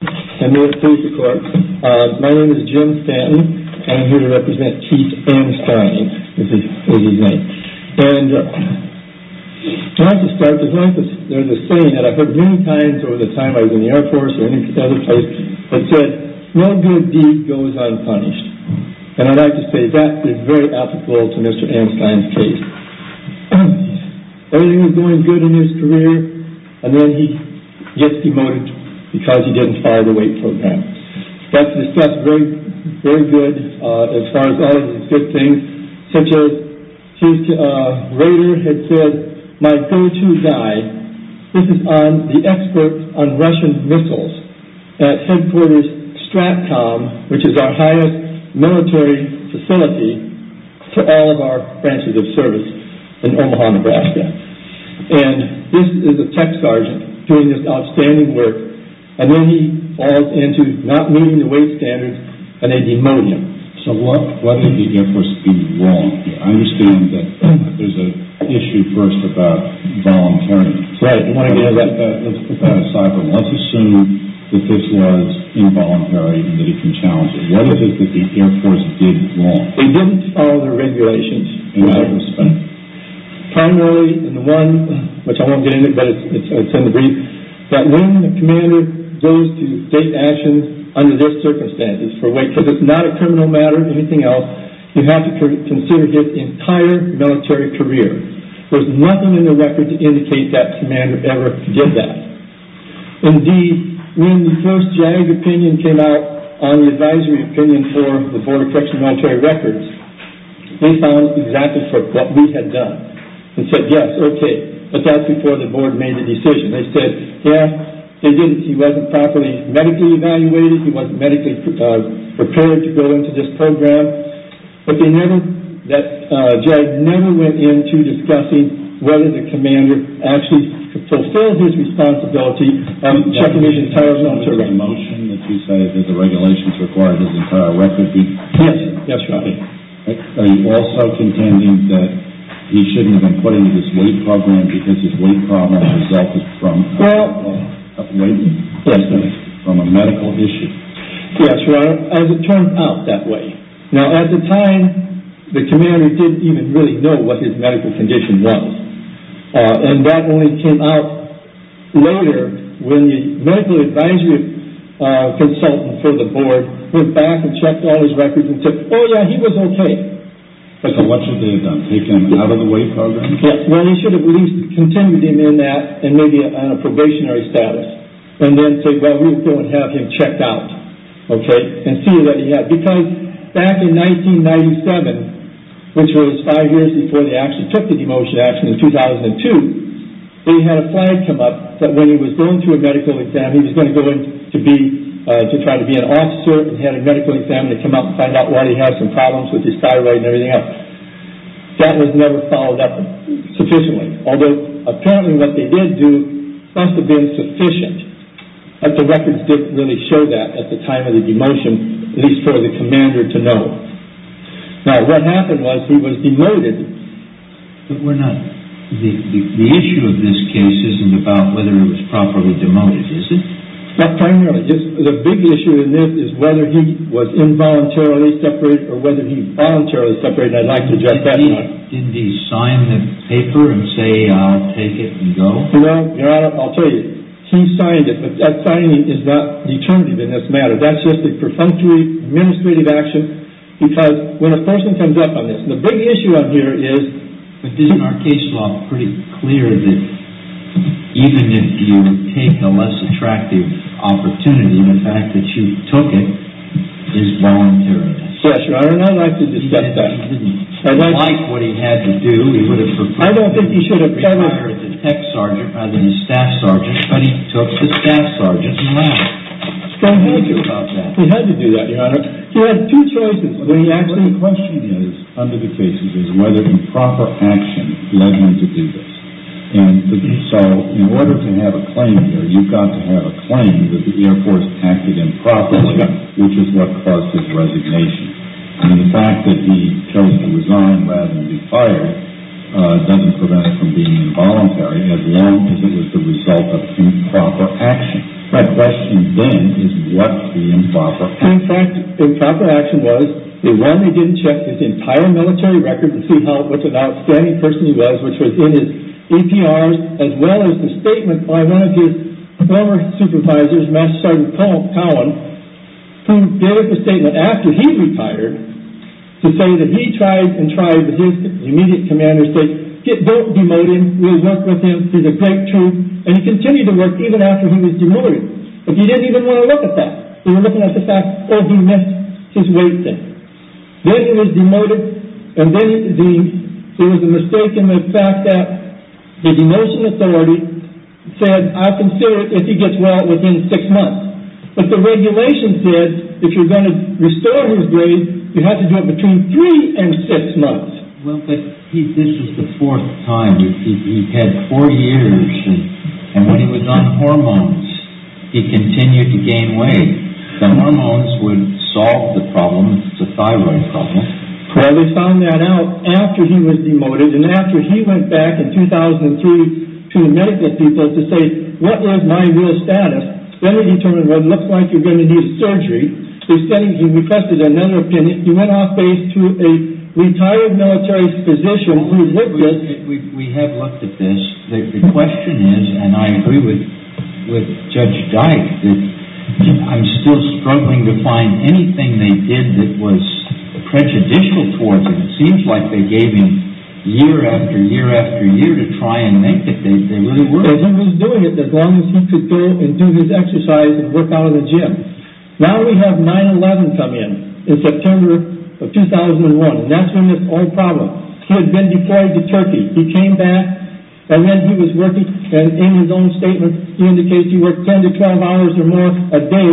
And may it please the court, my name is Jim Stanton and I'm here to represent Keith Anstine. And I'd like to start by saying that I've heard many times over the time I was in the Air Force or any other place that said no good deed goes unpunished. And I'd like to say that is very applicable to Mr. Anstine's case. Everything was going good in his career and then he gets demoted because he didn't follow the weight program. That's very good as far as all of these good things. Keith Rader had said, my go-to guy, this is on the experts on Russian missiles at headquarters STRATCOM, which is our highest military facility for all of our branches of service in Omaha, Nebraska. And this is a tech sergeant doing this outstanding work and then he falls into not meeting the weight standards and a demonium. So why did the Air Force do wrong here? I understand that there's an issue first about voluntariness. Right, I want to get into that. Let's put that aside, but let's assume that this was involuntary and that it can challenge it. Why is it that the Air Force did wrong? They didn't follow the regulations. And how was that? Primarily, and the one, which I won't get into, but it's in the brief, that when the commander goes to state actions under these circumstances for weight, because it's not a criminal matter or anything else, you have to consider his entire military career. There's nothing in the record to indicate that commander ever did that. Indeed, when the first JAG opinion came out on the advisory opinion for the Board of Correctional Military Records, they found exactly what we had done. They said, yes, okay, but that's before the board made a decision. They said, yes, he wasn't properly medically evaluated. He wasn't medically prepared to go into this program. But they never, that JAG never went into discussing whether the commander actually fulfills his responsibility. I'm checking his entire military record. That's a motion that you say that the regulations require his entire record to be. Yes, yes, your honor. Are you also contending that he shouldn't have been put into this weight program because his weight problem resulted from a medical issue? Yes, your honor. As it turned out that way. Now, at the time, the commander didn't even really know what his medical condition was. And that only came out later when the medical advisory consultant for the board went back and checked all his records and said, oh, yeah, he was okay. So what should they have done, take him out of the weight program? Well, they should have at least continued him in that and maybe on a probationary status and then said, well, we're going to have him checked out, okay, and see what he had. Because back in 1997, which was five years before they actually took the demotion, actually in 2002, they had a flag come up that when he was going through a medical exam, he was going to go in to try to be an officer. He had a medical exam to come up and find out why he had some problems with his thyroid and everything else. That was never followed up sufficiently, although apparently what they did do must have been sufficient. But the records didn't really show that at the time of the demotion, at least for the commander to know. Now, what happened was he was demoted. But the issue of this case isn't about whether it was properly demoted, is it? Primarily. The big issue in this is whether he was involuntarily separated or whether he voluntarily separated. I'd like to judge that. Didn't he sign the paper and say, I'll take it and go? No, Your Honor, I'll tell you, he signed it, but that signing is not determinative in this matter. That's just a perfunctory administrative action because when a person comes up on this, the big issue out here is, but isn't our case law pretty clear that even if you take a less attractive opportunity, the fact that you took it is voluntary? Yes, Your Honor, and I'd like to discuss that. He didn't like what he had to do. I don't think he should have done that. He hired the tech sergeant rather than the staff sergeant, but he took the staff sergeant and left. He had to do that, Your Honor. The question is, under the cases, is whether improper action led him to do this. And so in order to have a claim here, you've got to have a claim that the Air Force acted improperly, which is what caused his resignation. And the fact that he chose to resign rather than be fired doesn't prevent him from being involuntary, as long as it was the result of improper action. My question then is what the improper action was. In fact, the improper action was that while he didn't check his entire military records to see what an outstanding person he was, which was in his EPRs, as well as the statement by one of his former supervisors, Master Sergeant Powell, who gave the statement after he retired to say that he tried and tried, but his immediate commander said, don't demote him. We'll work with him. He's a great troop. And he continued to work even after he was demoted. But he didn't even want to look at that. He was looking at the fact, oh, he missed his weight thing. Then he was demoted. And then there was a mistake in the fact that the demotion authority said, I'll consider it if he gets well within six months. But the regulation says if you're going to restore his grades, you have to do it between three and six months. Well, but this was the fourth time. He had four years. And when he was on hormones, he continued to gain weight. The hormones would solve the problem, the thyroid problem. Well, they found that out after he was demoted and after he went back in 2003 to the medical people to say, what was my real status? Then they determined, well, it looks like you're going to need surgery. He requested another opinion. He went off base to a retired military physician who lived there. We have looked at this. The question is, and I agree with Judge Dyke, that I'm still struggling to find anything they did that was prejudicial towards him. It seems like they gave him year after year after year to try and make it. They really were. He was doing it as long as he could go and do his exercise and work out of the gym. Now we have 9-11 come in. It's September of 2001. That's when this whole problem. He had been deployed to Turkey. He came back, and then he was working. And in his own statement, he indicates he worked 10 to 12 hours or more a day,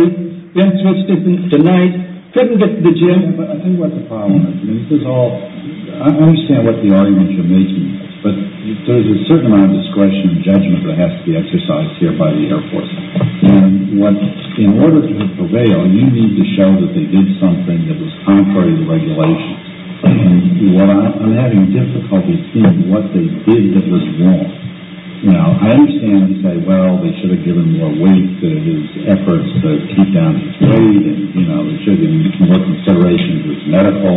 then switched it to night, couldn't get to the gym. But I think that's the problem. This is all, I understand what the arguments you're making, but there's a certain amount of discretion and judgment that has to be exercised here by the Air Force. In order to prevail, you need to show that they did something that was contrary to regulations. And I'm having difficulty seeing what they did that was wrong. Now, I understand that you say, well, they should have given more weight to his efforts to keep down his weight and, you know, ensure that he can work considerations with medical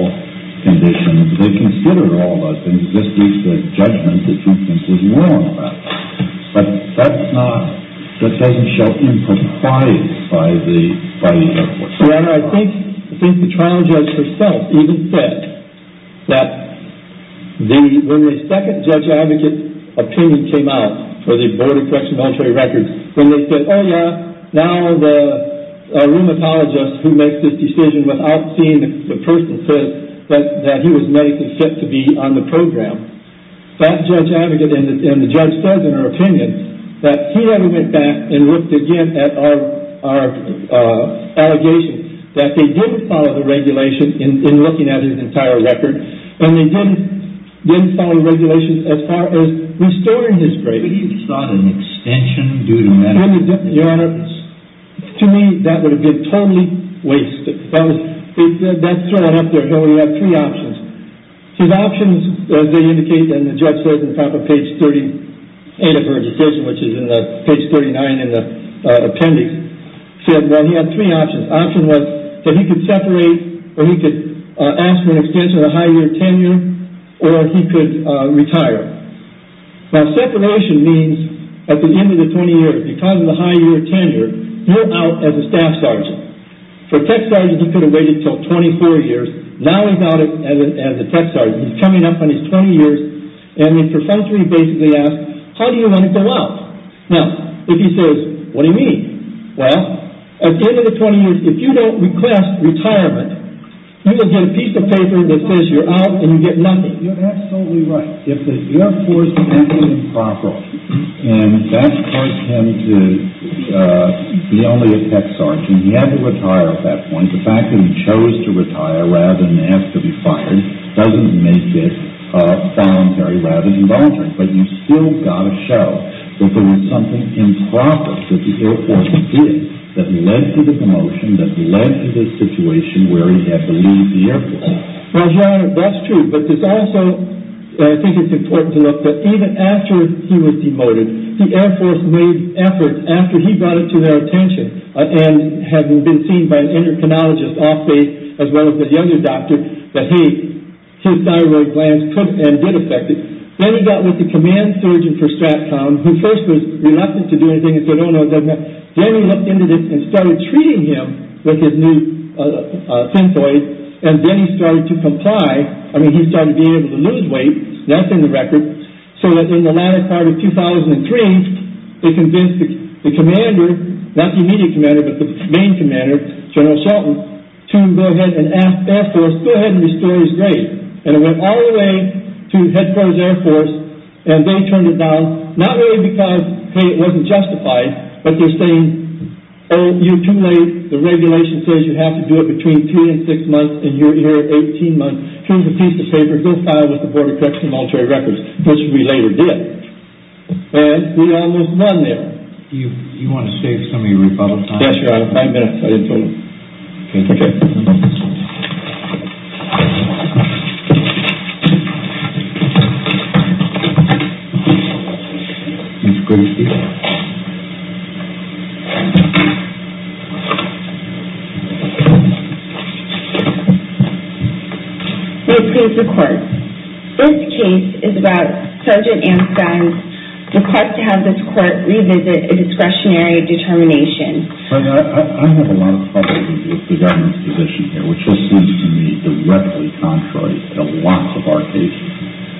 conditions. They considered all those things. This is the judgment that you think is wrong about that. But that's not, that doesn't show impropriety by the Air Force. Well, I think the trial judge herself even said that when the second judge advocate's opinion came out for the Board of Correctional Military Records, when they said, oh, yeah, now the rheumatologist who makes this decision without seeing the person says that he was medically fit to be on the program, that judge advocate and the judge says in her opinion that he never went back and looked again at our allegations, that they didn't follow the regulation in looking at his entire record, and they didn't follow regulations as far as restoring his grades. But he sought an extension due to medical conditions. Your Honor, to me, that would have been totally wasted. That's thrown out there. Here we have three options. His options, as they indicate, and the judge says in the top of page 38 of her decision, which is in page 39 in the appendix, said that he had three options. The option was that he could separate or he could ask for an extension of the high year tenure or he could retire. Now, separation means at the end of the 20 years, because of the high year tenure, you're out as a staff sergeant. For tech sergeants, he could have waited until 24 years. Now he's out as a tech sergeant. He's coming up on his 20 years, and for some reason he basically asks, how do you want to go out? Now, if he says, what do you mean? Well, at the end of the 20 years, if you don't request retirement, you will get a piece of paper that says you're out and you get nothing. You're absolutely right. If the Air Force is absolutely improper, and that caused him to be only a tech sergeant, and he had to retire at that point, the fact that he chose to retire rather than ask to be fired, doesn't make it voluntary rather than voluntary. But you've still got to show that there was something improper that the Air Force did that led to the promotion, that led to this situation where he had to leave the Air Force. Well, John, that's true. But it's also, I think it's important to note that even after he was demoted, the Air Force made efforts after he brought it to their attention and had been seen by an endocrinologist off-base, as well as the younger doctor, that his thyroid glands could and did affect it. Then he got with the command surgeon for Stratcom, who first was reluctant to do anything and said, oh, no, it doesn't matter. Then he looked into this and started treating him with his new synthoids, and then he started to comply. I mean, he started being able to lose weight. That's in the record. So that in the latter part of 2003, they convinced the commander, not the immediate commander but the main commander, General Shelton, to go ahead and ask the Air Force, go ahead and restore his grade. And it went all the way to headquarters Air Force, and they turned it down not really because, hey, it wasn't justified, but they're saying, oh, you're too late. The regulation says you have to do it between two and six months, and you're here 18 months. Here's a piece of paper. This is what the Board of Corrections and Military Records, which we later did. And we almost won there. Do you want to save some of your rebuttal time? Yes, sir, I have five minutes. I didn't tell you. Okay. Okay. We approve the court. This case is about Sergeant Anstine's request to have this court revisit a discretionary determination. I have a lot of trouble with the government's position here, which just seems to me directly contrary to lots of our cases.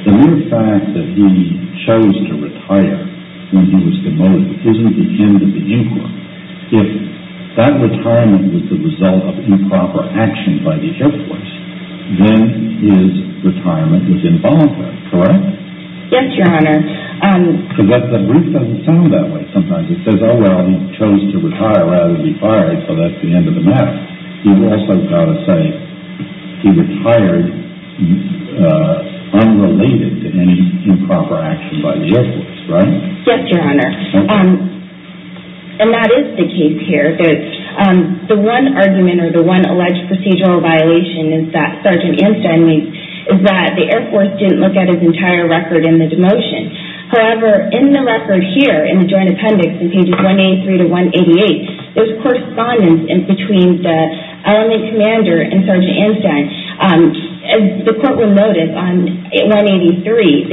The mere fact that he chose to retire when he was demoted isn't the end of the inquiry. If that retirement was the result of improper action by the Air Force, then his retirement was involuntary, correct? Yes, Your Honor. But the brief doesn't sound that way sometimes. It says, oh, well, he chose to retire rather than be fired, so that's the end of the matter. You've also got to say he retired unrelated to any improper action by the Air Force, right? Yes, Your Honor. And that is the case here. The one argument or the one alleged procedural violation is that Sergeant Anstine is that the Air Force didn't look at his entire record in the demotion. However, in the record here, in the joint appendix, in pages 183 to 188, there's correspondence between the LNA commander and Sergeant Anstine. As the courtroom noted on 183,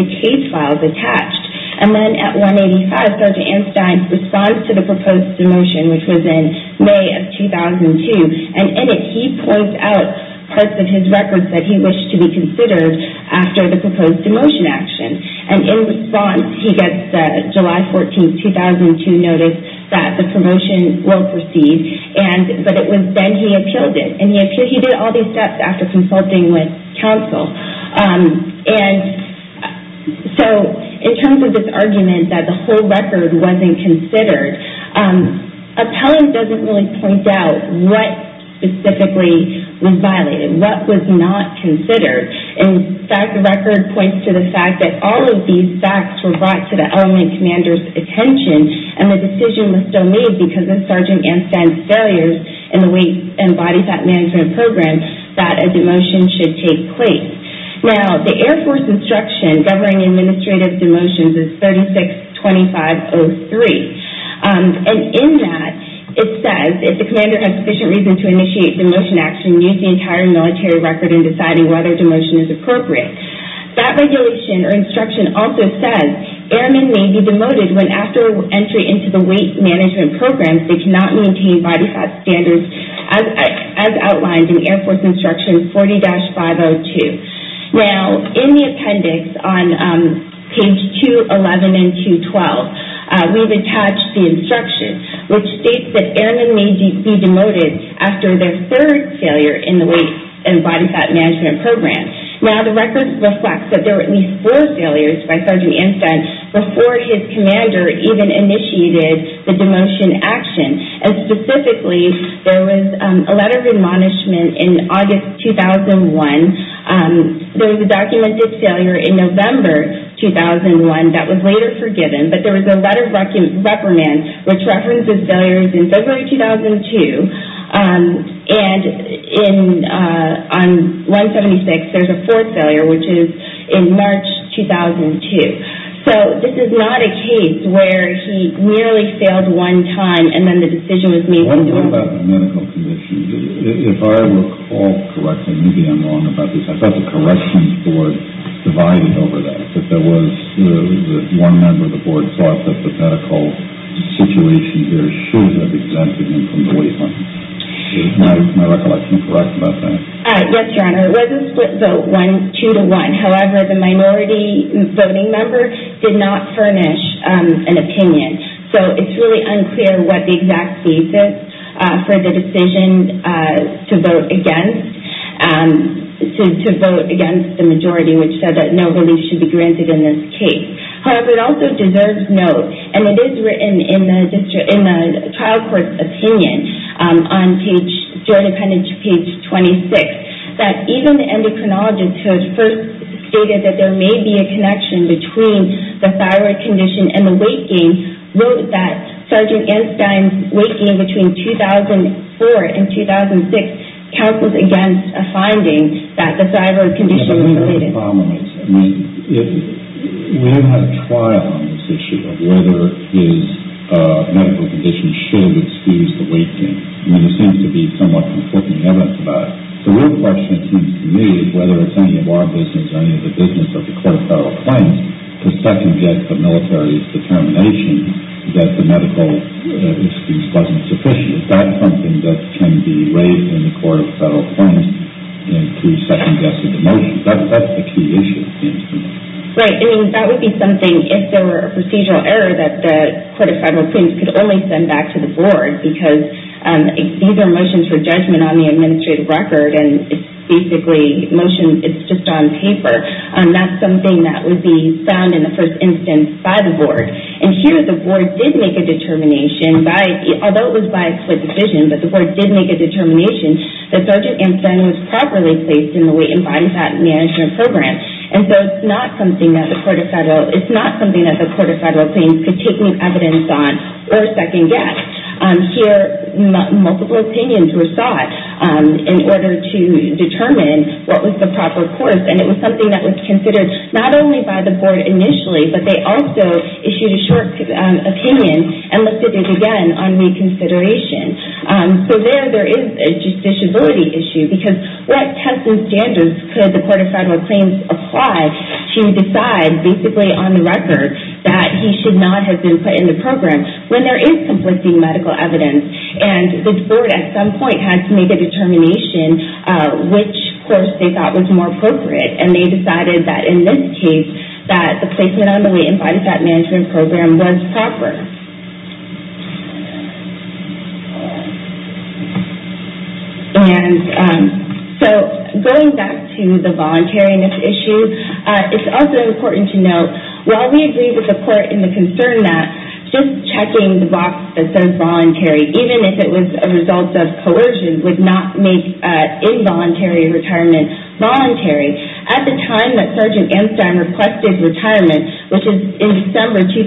the case file is attached. And then at 185, Sergeant Anstine responds to the proposed demotion, which was in May of 2002, and in it he points out parts of his record that he wished to be considered after the proposed demotion action. And in response, he gets the July 14, 2002 notice that the promotion will proceed, but it was then he appealed it. And he did all these steps after consulting with counsel. And so in terms of this argument that the whole record wasn't considered, appellant doesn't really point out what specifically was violated, what was not considered. In fact, the record points to the fact that all of these facts were brought to the LNA commander's attention and the decision was still made because of Sergeant Anstine's failures in the weight and body fat management program that a demotion should take place. Now, the Air Force instruction governing administrative demotions is 36-2503. And in that, it says, if the commander has sufficient reason to initiate demotion action, he can use the entire military record in deciding whether demotion is appropriate. That regulation or instruction also says airmen may be demoted when after entry into the weight management program they cannot maintain body fat standards as outlined in Air Force instruction 40-502. Now, in the appendix on page 211 and 212, we've attached the instruction, which states that airmen may be demoted after their third failure in the weight and body fat management program. Now, the record reflects that there were at least four failures by Sergeant Anstine before his commander even initiated the demotion action. And specifically, there was a letter of admonishment in August 2001. There was a documented failure in November 2001 that was later forgiven, but there was a letter of reprimand which references failures in February 2002. And on 176, there's a fourth failure, which is in March 2002. So this is not a case where he merely failed one time and then the decision was made. What about the medical conditions? If I look all correctly, maybe I'm wrong about this. I thought the corrections board divided over that, that there was one member of the board thought that the medical situation here should have exempted him from the weight limit. Is my recollection correct about that? Yes, Your Honor. It was a split vote, two to one. However, the minority voting member did not furnish an opinion. So it's really unclear what the exact thesis for the decision to vote against, to vote against the majority, which said that no relief should be granted in this case. However, it also deserves note, and it is written in the trial court's opinion on page, joint appendage page 26, that even the endocrinologist who first stated that there may be a connection between the thyroid condition and the weight gain, wrote that Sergeant Einstein's weight gain between 2004 and 2006 counsels against a finding that the thyroid condition was related. We don't have a trial on this issue of whether his medical condition should excuse the weight gain. I mean, there seems to be somewhat conflicting evidence about it. The real question, it seems to me, is whether it's any of our business or any of the business of the court of federal claims to second-guess the military's determination that the medical excuse wasn't sufficient. Is that something that can be raised in the court of federal claims to second-guess the motion? That's the key issue, it seems to me. Right. I mean, that would be something, if there were a procedural error, that the court of federal claims could only send back to the board, because these are motions for judgment on the administrative record, and it's basically motions, it's just on paper. That's something that would be found in the first instance by the board. And here, the board did make a determination, although it was by a split decision, but the board did make a determination that Sergeant Einstein was properly placed in the weight and body fat management program. And so it's not something that the court of federal claims could take new evidence on or second-guess. Here, multiple opinions were sought in order to determine what was the proper course, and it was something that was considered not only by the board initially, but they also issued a short opinion and listed it again on reconsideration. So there, there is a justiciability issue, because what testing standards could the court of federal claims apply to decide, basically on the record, that he should not have been put in the program when there is conflicting medical evidence? And the board, at some point, had to make a determination, which course they thought was more appropriate, and they decided that in this case, that the placement on the weight and body fat management program was proper. And so, going back to the voluntariness issue, it's also important to note, while we agree with the court in the concern that just checking the box that says voluntary, even if it was a result of coercion, would not make involuntary retirement voluntary. At the time that Sergeant Einstein requested retirement, which is in December 2003,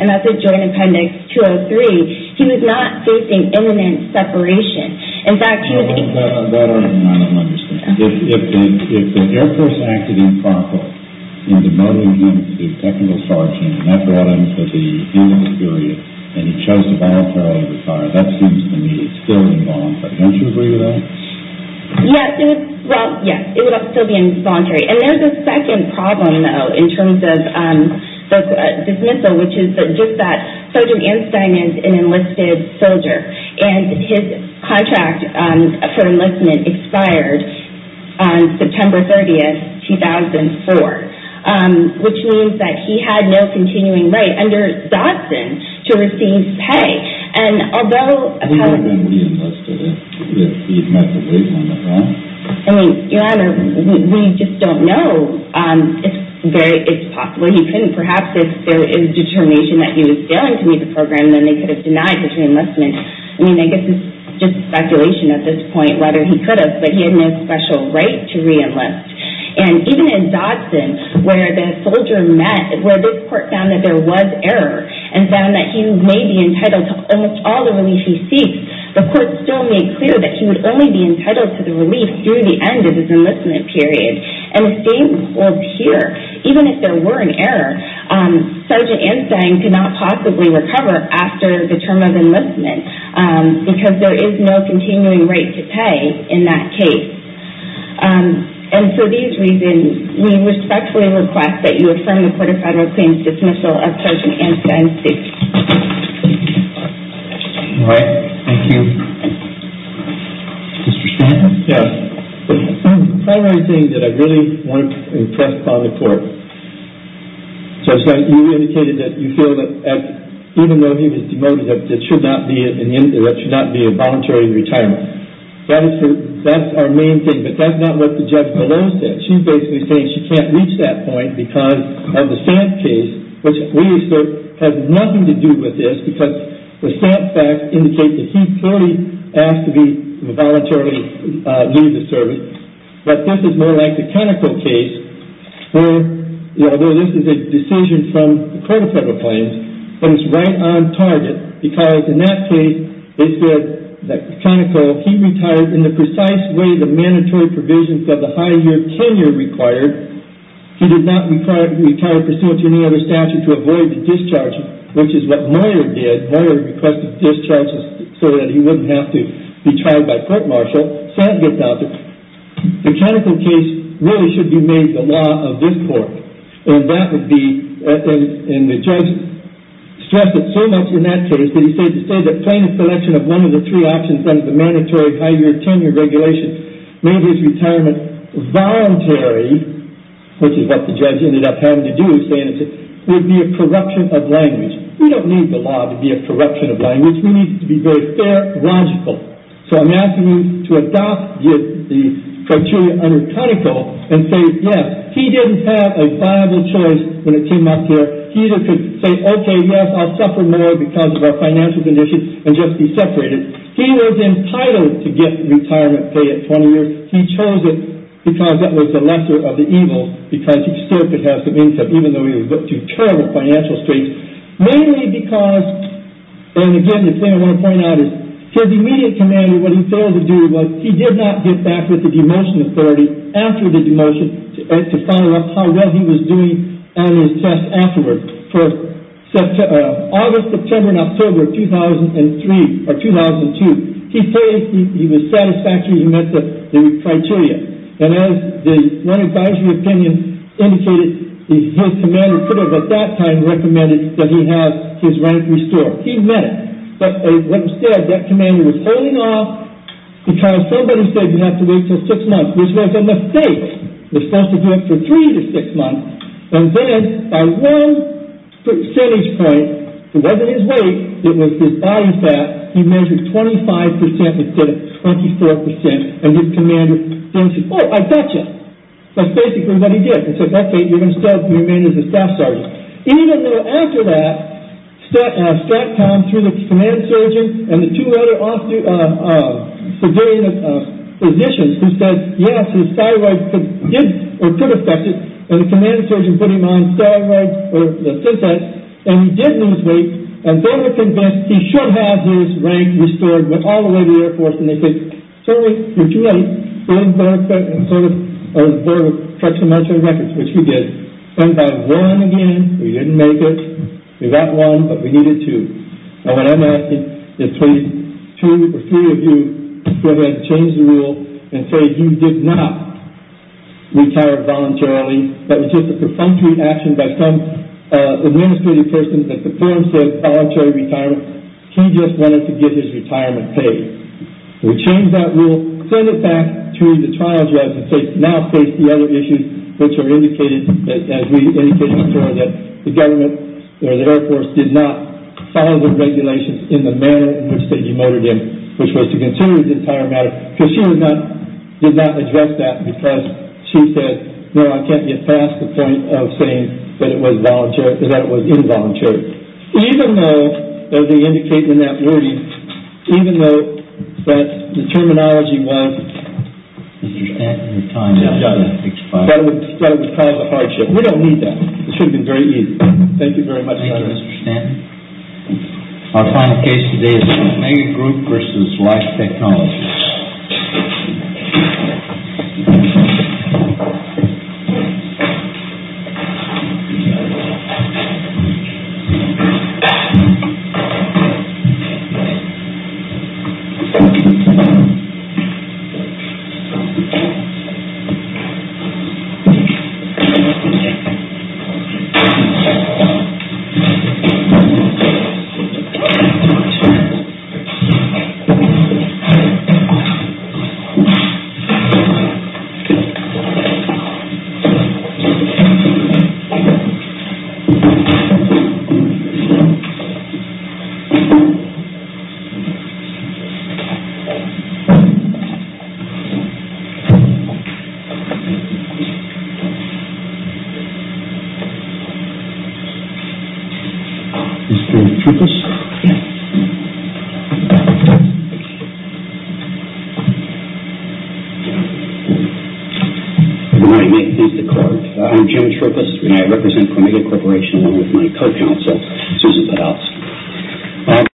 and that's at Joint Appendix 203, he was not facing imminent separation. In fact, I don't understand. If the Air Force acted improperly in demoting him to the technical sergeant, and that brought him to the end of the period, and he chose to voluntarily retire, that seems to me still involuntary. Don't you agree with that? Yes, well, yes, it would still be involuntary. And there's a second problem, though, in terms of dismissal, which is just that Sergeant Einstein is an enlisted soldier, and his contract for enlistment expired on September 30th, 2004, which means that he had no continuing right under Dodson to receive pay. And although— I mean, Your Honor, we just don't know. It's very—it's possible he couldn't. Perhaps if there is determination that he was failing to meet the program, then they could have denied his re-enlistment. I mean, I guess it's just speculation at this point whether he could have, but he had no special right to re-enlist. And even in Dodson, where the soldier met, where this court found that there was error and found that he may be entitled to almost all the relief he seeks, the court still made clear that he would only be entitled to the relief through the end of his enlistment period. And the same holds here. Even if there were an error, Sergeant Einstein could not possibly recover after the term of enlistment because there is no continuing right to pay in that case. And for these reasons, we respectfully request that you affirm the Court of Federal Claims' dismissal of Sergeant Einstein's case. All right. Thank you. Mr. Schneider. Yes. The primary thing that I really want to impress upon the Court is that you indicated that you feel that even though he was demoted, that there should not be a voluntary retirement. That's our main thing, but that's not what the judge below said. She's basically saying she can't reach that point because of the SAMP case, which we assert has nothing to do with this because the SAMP facts indicate that he clearly asked to voluntarily leave the service. But this is more like the Conoco case, where although this is a decision from the Court of Federal Claims, but it's right on target because in that case, they said that Conoco, he retired in the precise way the mandatory provisions of the high year tenure required. He did not retire pursuant to any other statute to avoid the discharge, which is what Moyer did. Moyer requested discharges so that he wouldn't have to be charged by court-martial. So that gets out there. The Conoco case really should be made the law of this Court, and that would be, and the judge stressed it so much in that case that he said to say that plain selection of one of the three options under the mandatory high year tenure regulations made his retirement voluntary, which is what the judge ended up having to do, would be a corruption of language. We don't need the law to be a corruption of language. We need it to be very fair, logical. So I'm asking you to adopt the criteria under Conoco and say yes. He didn't have a viable choice when it came up here. He either could say, okay, yes, I'll suffer more because of our financial conditions and just be separated. He was entitled to get retirement pay at 20 years. He chose it because that was the lesser of the evils, because he still could have the means of, even though he was up to terrible financial straits, mainly because, and again, the thing I want to point out is for the immediate commander, what he failed to do was he did not get back with the demotion authority after the demotion to follow up how well he was doing on his test afterward. For August, September, and October of 2003 or 2002, he said he was satisfactory. He met the criteria. And as the one advisory opinion indicated, his commander could have at that time recommended that he have his rank restored. He met it. But instead, that commander was holding off because somebody said you have to wait until six months, which was a mistake. You're supposed to do it for three to six months. And then at one percentage point, it wasn't his weight, it was his body fat, he measured 25 percent instead of 24 percent. And his commander then said, oh, I got you. That's basically what he did. He said, okay, you're going to stay with me as a staff sergeant. Even though after that, staff time through the command sergeant and the two other civilian physicians who said, yes, his thyroid did or could affect it, and the command sergeant put him on steroids or the SysEx, and he did lose weight and they were convinced he should have his rank restored and went all the way to the Air Force. And they said, sorry, you're too late. And so the board of correctional military records, which we did, sent back one again. We didn't make it. We got one, but we needed two. And what I'm asking is, please, two or three of you go ahead and change the rule and say he did not retire voluntarily. That was just a perfunctory action by some administrative person that the forum said voluntary retirement. He just wanted to get his retirement paid. We changed that rule, sent it back to the trial judge, and now face the other issues which are indicated, as we indicated before, that the government or the Air Force did not follow the regulations in the manner in which they demoted him, which was to consider the entire matter, because she did not address that because she said, no, I can't get past the point of saying that it was involuntary. Even though, as we indicated in that wording, even though that the terminology was Mr. Stanton, your time is up. That would cause a hardship. We don't need that. It should have been very easy. Thank you very much. Thank you, Mr. Stanton. Our final case today is the Omega Group versus Life Technologies. Thank you. Thank you. Mr. Troopas. Good morning. This is the court. I'm Jim Troopas, and I represent Omega Corporation with my co-counsel, Susan Podolsky.